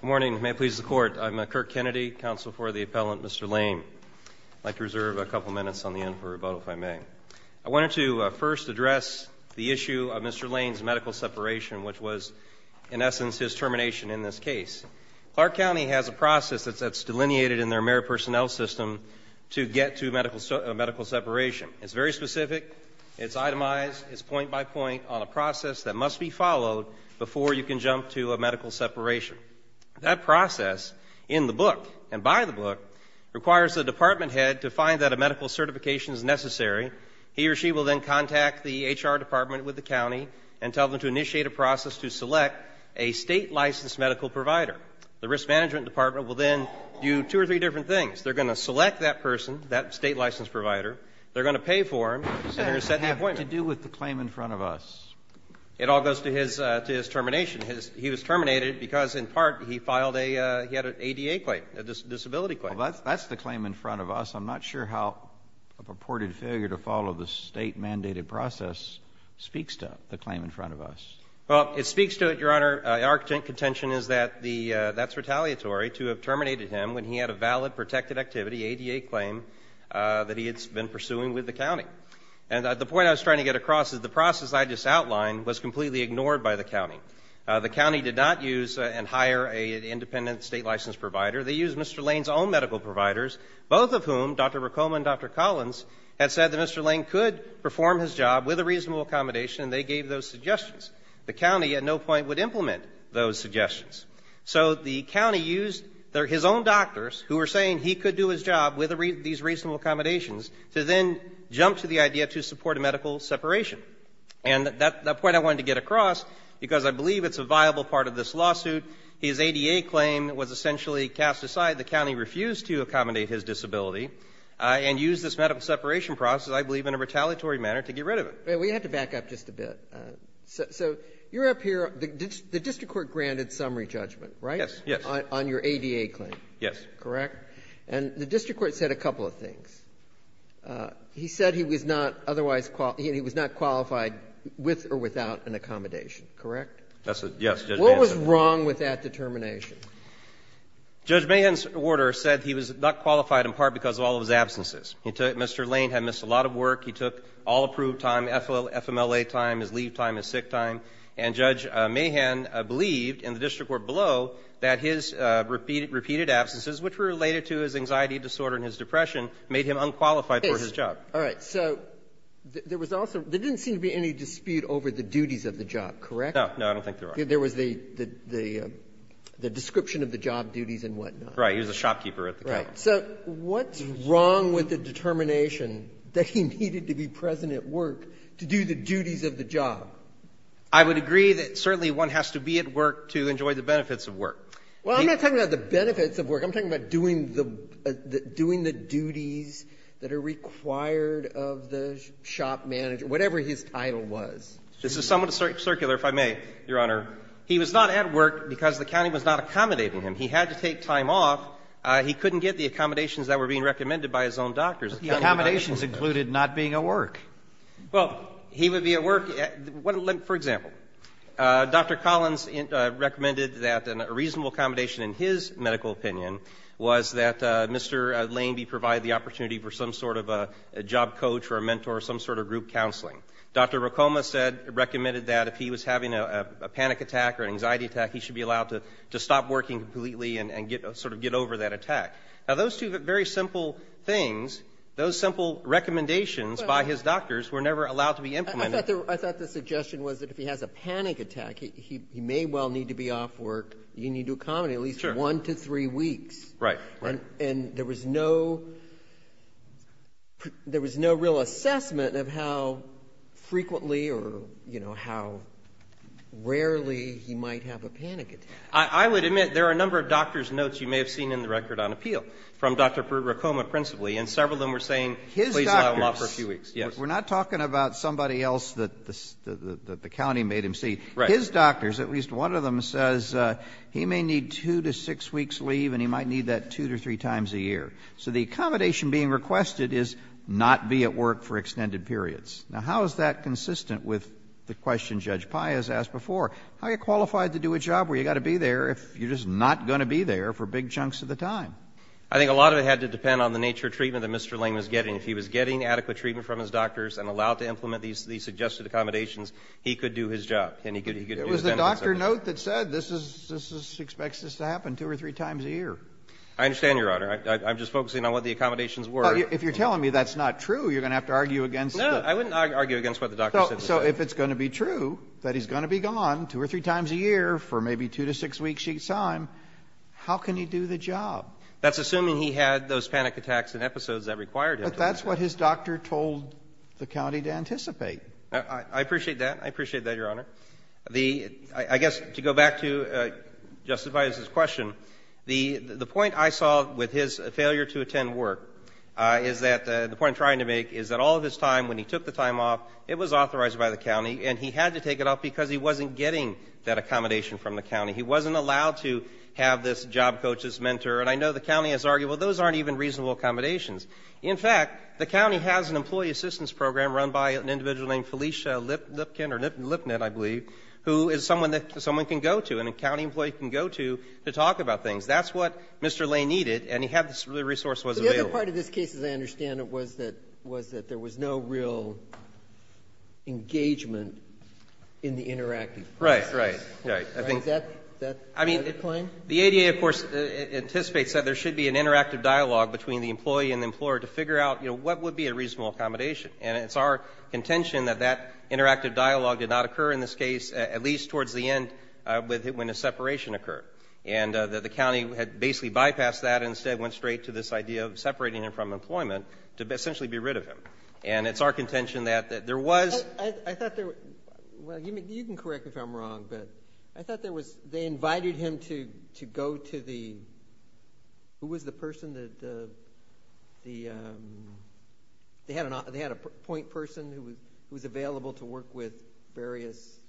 Good morning. May it please the court. I'm Kirk Kennedy, counsel for the appellant, Mr. Lane. I'd like to reserve a couple minutes on the end for rebuttal, if I may. I wanted to first address the issue of Mr. Lane's medical separation, which was, in essence, his termination in this case. Clark County has a process that's delineated in their merit personnel system to get to a medical separation. It's very specific. It's itemized. It's point by point on a process that must be followed before you can jump to a medical separation. That process, in the book and by the book, requires the department head to find that a medical certification is necessary. He or she will then contact the H.R. department with the county and tell them to initiate a process to select a state-licensed medical provider. The risk management department will then do two or three different things. They're going to select that person, that state-licensed provider. They're going to pay for him, and they're going to set the appointment. What does that have to do with the claim in front of us? It all goes to his termination. He was terminated because, in part, he had an ADA claim, a disability claim. Well, that's the claim in front of us. I'm not sure how a purported failure to follow the state-mandated process speaks to the claim in front of us. Well, it speaks to it, Your Honor. Our contention is that that's retaliatory to have terminated him when he had a valid, protected activity, ADA claim that he had been pursuing with the county. And the point I was trying to get across is the process I just outlined was completely ignored by the county. The county did not use and hire an independent state-licensed provider. They used Mr. Lane's own medical providers, both of whom, Dr. Racoma and Dr. Collins, had said that Mr. Lane could perform his job with a reasonable accommodation, and they gave those suggestions. The county at no point would implement those suggestions. So the county used his own doctors who were saying he could do his job with these reasonable accommodations to then jump to the idea to support a medical separation. And that point I wanted to get across because I believe it's a viable part of this lawsuit. His ADA claim was essentially cast aside. The county refused to accommodate his disability and used this medical separation process, I believe, in a retaliatory manner to get rid of it. We have to back up just a bit. So you're up here. The district court granted summary judgment, right? Yes, yes. On your ADA claim. Yes. Correct? And the district court said a couple of things. He said he was not qualified with or without an accommodation, correct? Yes, Judge Mahan said that. What was wrong with that determination? Judge Mahan's order said he was not qualified in part because of all of his absences. He took Mr. Lane had missed a lot of work. He took all approved time, FMLA time, his leave time, his sick time. And Judge Mahan believed in the district court below that his repeated absences, which were related to his anxiety disorder and his depression, made him unqualified for his job. All right. So there was also – there didn't seem to be any dispute over the duties of the job, correct? No. No, I don't think there are. There was the description of the job duties and whatnot. Right. He was a shopkeeper at the time. Right. So what's wrong with the determination that he needed to be present at work to do the duties of the job? I would agree that certainly one has to be at work to enjoy the benefits of work. Well, I'm not talking about the benefits of work. I'm talking about doing the duties that are required of the shop manager, whatever his title was. This is somewhat circular, if I may, Your Honor. He was not at work because the county was not accommodating him. He had to take time off. He couldn't get the accommodations that were being recommended by his own doctors. But the accommodations included not being at work. Well, he would be at work – for example, Dr. Collins recommended that a reasonable accommodation in his medical opinion was that Mr. Lane be provided the opportunity for some sort of a job coach or a mentor or some sort of group counseling. Dr. Racoma said – recommended that if he was having a panic attack or an anxiety attack, he should be allowed to stop working completely and sort of get over that attack. Now, those two very simple things, those simple recommendations by his doctors, were never allowed to be implemented. I thought the suggestion was that if he has a panic attack, he may well need to be off work. He may need to accommodate at least one to three weeks. Right. And there was no – there was no real assessment of how frequently or, you know, how rarely he might have a panic attack. I would admit there are a number of doctor's notes you may have seen in the record on appeal from Dr. Racoma principally, and several of them were saying, please allow him off for a few weeks. We're not talking about somebody else that the county made him see. Right. His doctors, at least one of them, says he may need two to six weeks leave and he might need that two to three times a year. So the accommodation being requested is not be at work for extended periods. Now, how is that consistent with the question Judge Pai has asked before? How are you qualified to do a job where you've got to be there if you're just not going to be there for big chunks of the time? I think a lot of it had to depend on the nature of treatment that Mr. Ling was getting. If he was getting adequate treatment from his doctors and allowed to implement these suggested accommodations, he could do his job. It was the doctor note that said this is expected to happen two or three times a year. I understand, Your Honor. I'm just focusing on what the accommodations were. If you're telling me that's not true, you're going to have to argue against it. No, I wouldn't argue against what the doctor said. So if it's going to be true that he's going to be gone two or three times a year for maybe two to six weeks each time, how can he do the job? That's assuming he had those panic attacks and episodes that required him to. But that's what his doctor told the county to anticipate. I appreciate that. I appreciate that, Your Honor. I guess to go back to justifies his question, the point I saw with his failure to attend work is that the point I'm trying to make is that all of his time, when he took the time off, it was authorized by the county, and he had to take it off because he wasn't getting that accommodation from the county. He wasn't allowed to have this job coach, this mentor. And I know the county has argued, well, those aren't even reasonable accommodations. In fact, the county has an employee assistance program run by an individual named Felicia Lipkin or Lipnett, I believe, who is someone that someone can go to, an accounting employee can go to to talk about things. That's what Mr. Lane needed, and he had the resources available. But the other part of this case, as I understand it, was that there was no real engagement in the interactive process. Right, right, right. Is that the point? The ADA, of course, anticipates that there should be an interactive dialogue between the employee and the employer to figure out what would be a reasonable accommodation. And it's our contention that that interactive dialogue did not occur in this case, at least towards the end when the separation occurred. And the county had basically bypassed that and instead went straight to this idea of separating him from employment to essentially be rid of him. And it's our contention that there was. I thought there was. Well, you can correct me if I'm wrong, but I thought there was. They invited him to go to the, who was the person that the, they had a point person who was available to work with various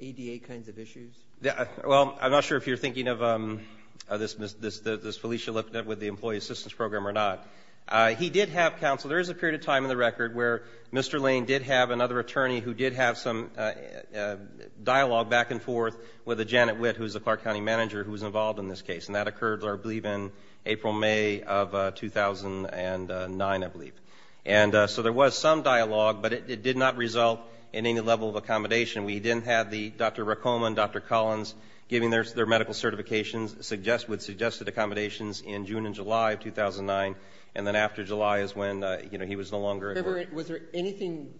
ADA kinds of issues? Well, I'm not sure if you're thinking of this Felicia Lipnett with the employee assistance program or not. He did have counsel. There is a period of time in the record where Mr. Lane did have another attorney who did have some dialogue back and forth with Janet Witt, who is the Clark County manager who was involved in this case. And that occurred, I believe, in April, May of 2009, I believe. And so there was some dialogue, but it did not result in any level of accommodation. We did have Dr. Racoma and Dr. Collins giving their medical certifications with suggested accommodations in June and July of 2009, and then after July is when he was no longer at work. However, was there anything,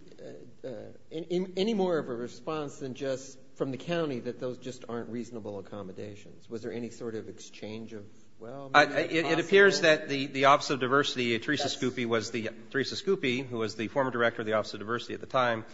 any more of a response than just from the county that those just aren't reasonable accommodations? Was there any sort of exchange of, well, maybe it's possible? It appears that the Office of Diversity, Teresa Scoopy was the, Teresa Scoopy, who was the former director of the Office of Diversity at the time,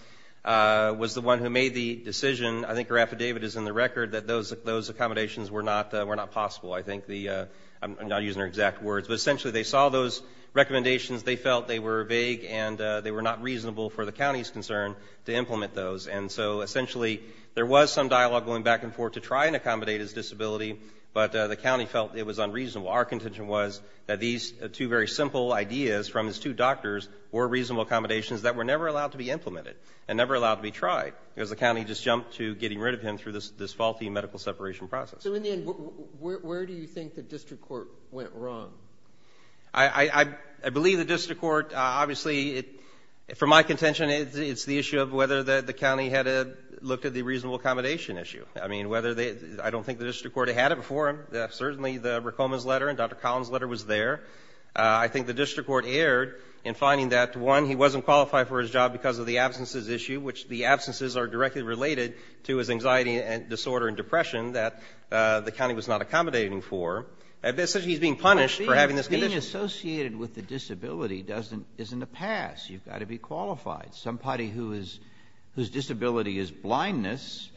was the one who made the decision, I think her affidavit is in the record, that those accommodations were not possible. I think the, I'm not using her exact words, but essentially they saw those recommendations, they felt they were vague and they were not reasonable for the county's concern to implement those. And so essentially there was some dialogue going back and forth to try and accommodate his disability, but the county felt it was unreasonable. Our contention was that these two very simple ideas from his two doctors were reasonable accommodations that were never allowed to be implemented and never allowed to be tried because the county just jumped to getting rid of him through this faulty medical separation process. So in the end, where do you think the district court went wrong? I believe the district court, obviously, for my contention, it's the issue of whether the county had looked at the reasonable accommodation issue. I mean, whether they, I don't think the district court had it before him. Certainly the Rekhoman's letter and Dr. Collins' letter was there. I think the district court erred in finding that, one, he wasn't qualified for his job because of the absences issue, which the absences are directly related to his anxiety and disorder and depression that the county was not accommodating for. So he's being punished for having this condition. Being associated with a disability isn't a pass. You've got to be qualified. Somebody whose disability is blindness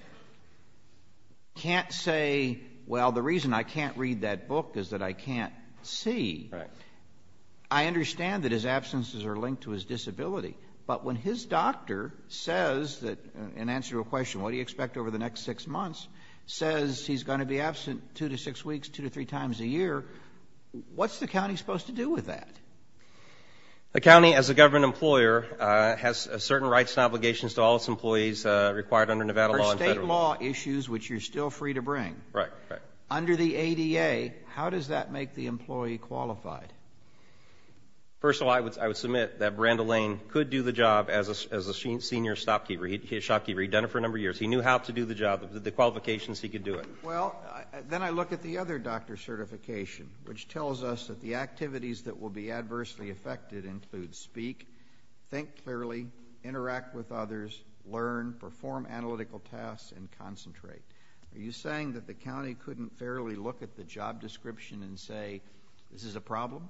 can't say, well, the reason I can't read that book is that I can't see. Right. I understand that his absences are linked to his disability, but when his doctor says, in answer to a question, what do you expect over the next six months, says he's going to be absent two to six weeks, two to three times a year, what's the county supposed to do with that? The county, as a government employer, has certain rights and obligations to all its employees required under Nevada law and federal law. For state law issues, which you're still free to bring. Right, right. Under the ADA, how does that make the employee qualified? First of all, I would submit that Brandon Lane could do the job as a senior shopkeeper. He'd done it for a number of years. He knew how to do the job, the qualifications he could do it. Well, then I look at the other doctor certification, which tells us that the activities that will be adversely affected include speak, think clearly, interact with others, learn, perform analytical tasks, and concentrate. Are you saying that the county couldn't fairly look at the job description and say, this is a problem?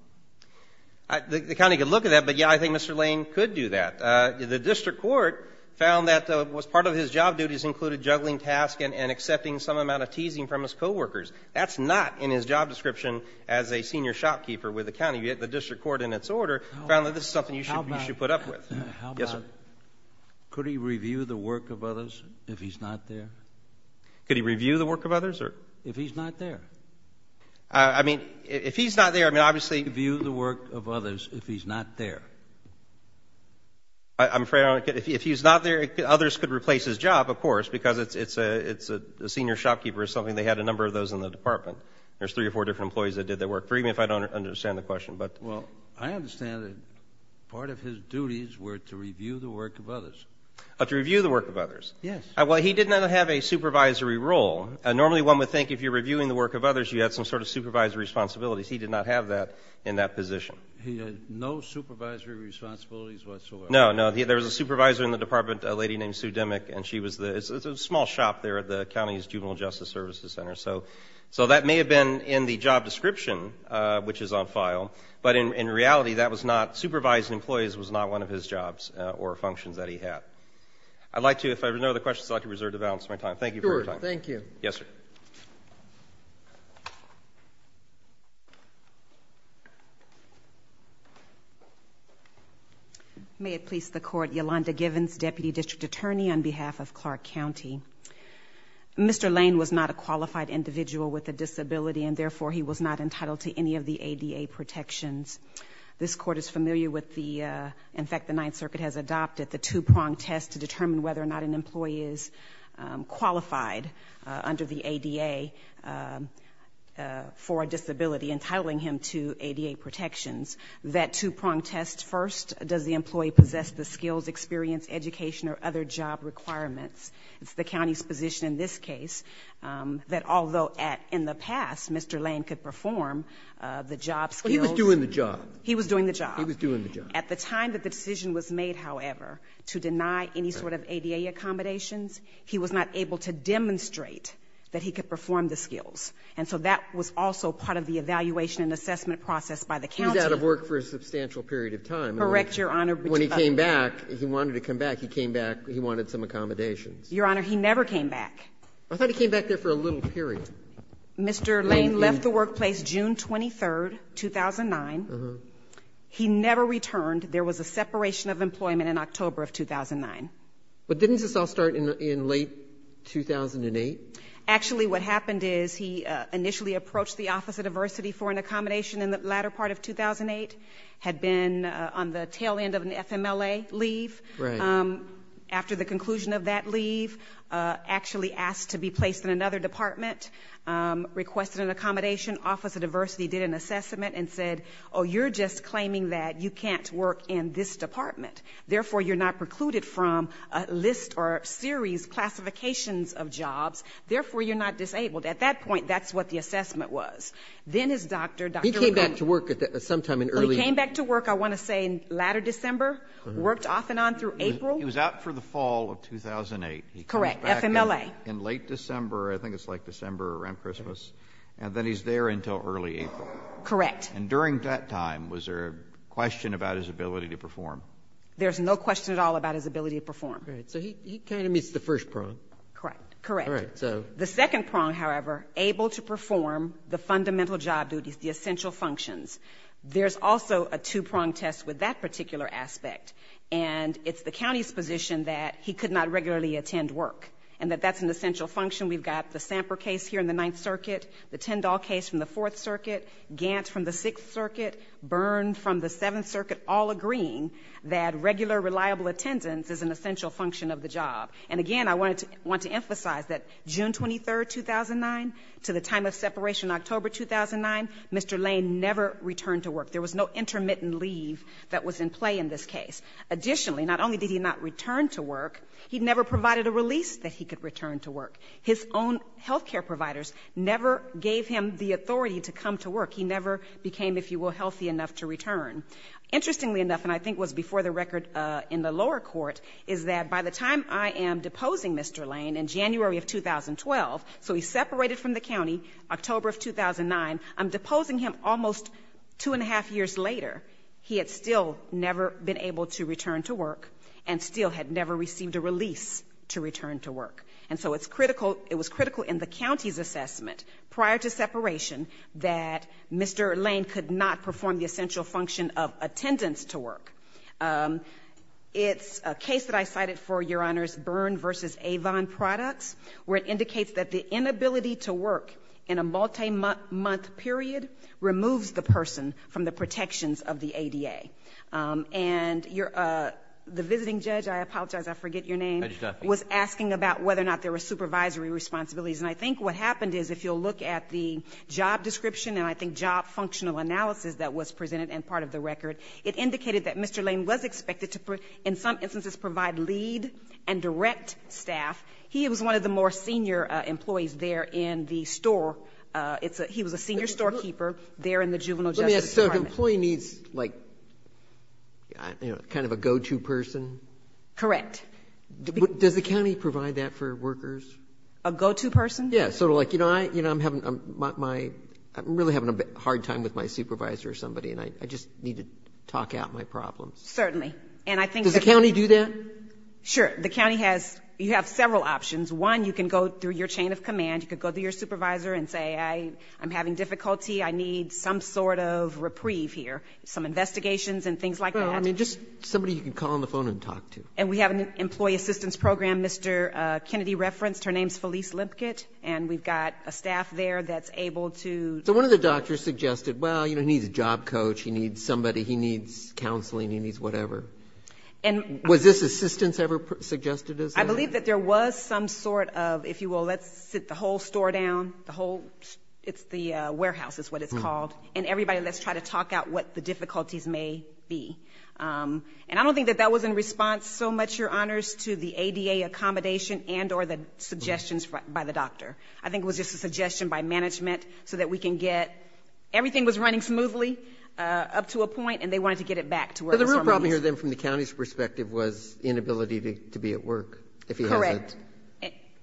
The county could look at that, but, yeah, I think Mr. Lane could do that. The district court found that part of his job duties included juggling tasks and accepting some amount of teasing from his coworkers. That's not in his job description as a senior shopkeeper with the county. Yet the district court, in its order, found that this is something you should put up with. Yes, sir? Could he review the work of others if he's not there? Could he review the work of others? If he's not there. I mean, if he's not there, I mean, obviously. Could he review the work of others if he's not there? I'm afraid I don't get it. If he's not there, others could replace his job, of course, because it's a senior shopkeeper is something they had a number of those in the department. There's three or four different employees that did their work. Forgive me if I don't understand the question, but. Well, I understand that part of his duties were to review the work of others. To review the work of others. Yes. Well, he did not have a supervisory role. Normally one would think if you're reviewing the work of others, you have some sort of supervisory responsibilities. He did not have that in that position. He had no supervisory responsibilities whatsoever. No, no. There was a supervisor in the department, a lady named Sue Demick, and she was the small shop there at the county's Juvenile Justice Services Center. So that may have been in the job description, which is on file, but in reality that was not supervising employees was not one of his jobs or functions that he had. I'd like to, if there are no other questions, I'd like to reserve the balance of my time. Thank you for your time. Sure. Thank you. Yes, sir? Thank you. May it please the Court, Yolanda Givens, Deputy District Attorney on behalf of Clark County. Mr. Lane was not a qualified individual with a disability, and therefore he was not entitled to any of the ADA protections. This Court is familiar with the, in fact, the Ninth Circuit has adopted the two-prong test to determine whether or not an employee is qualified under the ADA for a disability, entitling him to ADA protections. That two-prong test first does the employee possess the skills, experience, education, or other job requirements. It's the county's position in this case that although in the past Mr. Lane could perform the job skills. He was doing the job. He was doing the job. He was doing the job. At the time that the decision was made, however, to deny any sort of ADA accommodations, he was not able to demonstrate that he could perform the skills. And so that was also part of the evaluation and assessment process by the county. He was out of work for a substantial period of time. Correct, Your Honor. When he came back, he wanted to come back, he came back, he wanted some accommodations. Your Honor, he never came back. I thought he came back there for a little period. Mr. Lane left the workplace June 23, 2009. He never returned. There was a separation of employment in October of 2009. But didn't this all start in late 2008? Actually, what happened is he initially approached the Office of Diversity for an accommodation in the latter part of 2008, had been on the tail end of an FMLA leave. Right. After the conclusion of that leave, actually asked to be placed in another department, requested an accommodation. Office of Diversity did an assessment and said, oh, you're just claiming that you can't work in this department. Therefore, you're not precluded from a list or series, classifications of jobs. Therefore, you're not disabled. At that point, that's what the assessment was. Then his doctor, Dr. McCormick. He came back to work sometime in early. He came back to work, I want to say, in latter December, worked off and on through April. He was out for the fall of 2008. Correct, FMLA. He comes back in late December, I think it's like December around Christmas. And then he's there until early April. Correct. And during that time, was there a question about his ability to perform? There's no question at all about his ability to perform. So he kind of meets the first prong. Correct. Correct. The second prong, however, able to perform the fundamental job duties, the essential functions. There's also a two-prong test with that particular aspect. And it's the county's position that he could not regularly attend work and that that's an essential function. We've got the Samper case here in the Ninth Circuit, the Tyndall case from the Fourth Circuit, Gant from the Sixth Circuit, Byrne from the Seventh Circuit, all agreeing that regular, reliable attendance is an essential function of the job. And, again, I want to emphasize that June 23, 2009, to the time of separation October 2009, Mr. Lane never returned to work. There was no intermittent leave that was in play in this case. Additionally, not only did he not return to work, he never provided a release that he could return to work. His own health care providers never gave him the authority to come to work. He never became, if you will, healthy enough to return. Interestingly enough, and I think it was before the record in the lower court, is that by the time I am deposing Mr. Lane in January of 2012, so he's separated from the county, October of 2009, I'm deposing him almost two and a half years later. He had still never been able to return to work and still had never received a release to return to work. And so it's critical, it was critical in the county's assessment prior to separation that Mr. Lane could not perform the essential function of attendance to work. It's a case that I cited for, Your Honors, Byrne v. Avon Products, where it indicates that the inability to work in a multi-month period removes the person from the protections of the ADA. And the visiting judge, I apologize, I forget your name, was asking about whether or not there were supervisory responsibilities. And I think what happened is, if you'll look at the job description and I think job functional analysis that was presented and part of the record, it indicated that Mr. Lane was expected to, in some instances, provide lead and direct staff. He was one of the more senior employees there in the store. He was a senior storekeeper there in the juvenile justice department. Let me ask, so an employee needs, like, kind of a go-to person? Correct. Does the county provide that for workers? A go-to person? Yeah, sort of like, you know, I'm having my, I'm really having a hard time with my supervisor or somebody, and I just need to talk out my problems. Certainly. Does the county do that? Sure. The county has, you have several options. One, you can go through your chain of command. You can go to your supervisor and say, I'm having difficulty. I need some sort of reprieve here, some investigations and things like that. Well, I mean, just somebody you can call on the phone and talk to. And we have an employee assistance program Mr. Kennedy referenced. Her name is Felice Lipkett. And we've got a staff there that's able to. So one of the doctors suggested, well, you know, he needs a job coach, he needs somebody, he needs counseling, he needs whatever. Was this assistance ever suggested as well? I believe that there was some sort of, if you will, let's sit the whole store down, the whole, it's the warehouse is what it's called, and everybody let's try to talk out what the difficulties may be. And I don't think that that was in response so much, Your Honors, to the ADA accommodation and or the suggestions by the doctor. I think it was just a suggestion by management so that we can get, everything was running smoothly up to a point and they wanted to get it back to where the store was. But the real problem here then from the county's perspective was inability to be at work. Correct.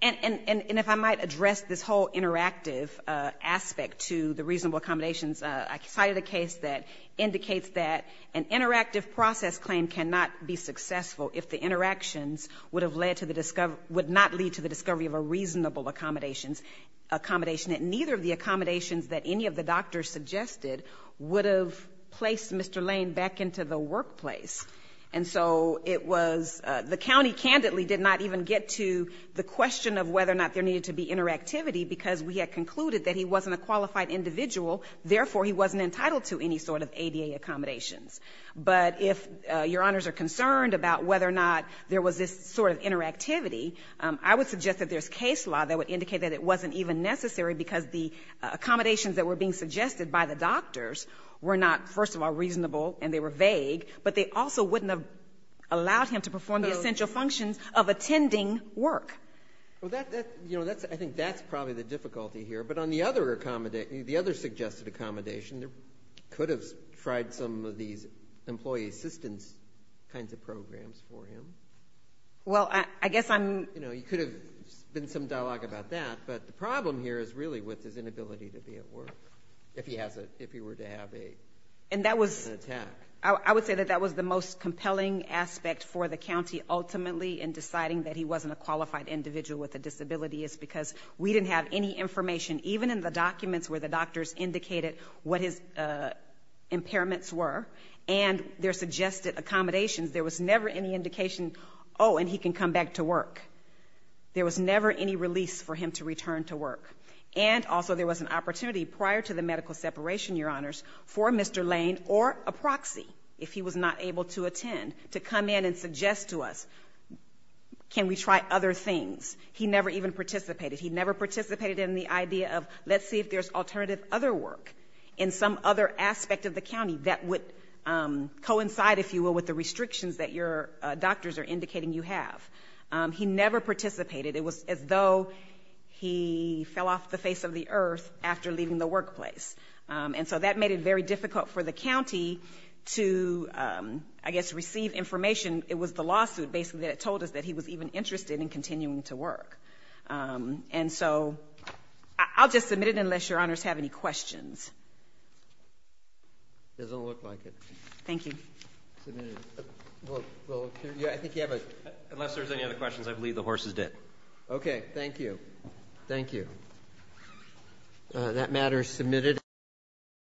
And if I might address this whole interactive aspect to the reasonable accommodations, I cited a case that indicates that an interactive process claim cannot be successful if the interactions would have led to the discovery, would not lead to the discovery of a reasonable accommodations, accommodation that neither of the accommodations that any of the doctors suggested would have placed Mr. Lane back into the workplace. And so it was, the county candidly did not even get to the question of whether or not there needed to be interactivity because we had concluded that he wasn't a qualified individual, therefore he wasn't entitled to any sort of ADA accommodations. But if Your Honors are concerned about whether or not there was this sort of interactivity, I would suggest that there's case law that would indicate that it wasn't even necessary because the accommodations that were being suggested by the doctors were not, first of all, reasonable and they were vague, but they also wouldn't have allowed him to perform the essential functions of attending work. Well, that, you know, I think that's probably the difficulty here. But on the other suggested accommodation, there could have tried some of these employee assistance kinds of programs for him. Well, I guess I'm... You know, there could have been some dialogue about that, but the problem here is really with his inability to be at work if he were to have an attack. And that was, I would say that that was the most compelling aspect for the county ultimately in deciding that he wasn't a qualified individual with a disability is because we didn't have any information, even in the documents where the doctors indicated what his impairments were and their suggested accommodations, there was never any indication, oh, and he can come back to work. There was never any release for him to return to work. And also there was an opportunity prior to the medical separation, Your Honors, to come in and suggest to us can we try other things. He never even participated. He never participated in the idea of let's see if there's alternative other work in some other aspect of the county that would coincide, if you will, with the restrictions that your doctors are indicating you have. He never participated. It was as though he fell off the face of the earth after leaving the workplace. And so that made it very difficult for the county to, I guess, receive information. It was the lawsuit, basically, that told us that he was even interested in continuing to work. And so I'll just submit it unless Your Honors have any questions. Doesn't look like it. Thank you. Unless there's any other questions, I believe the horse is dead. Okay. Thank you. Thank you. That matter is submitted.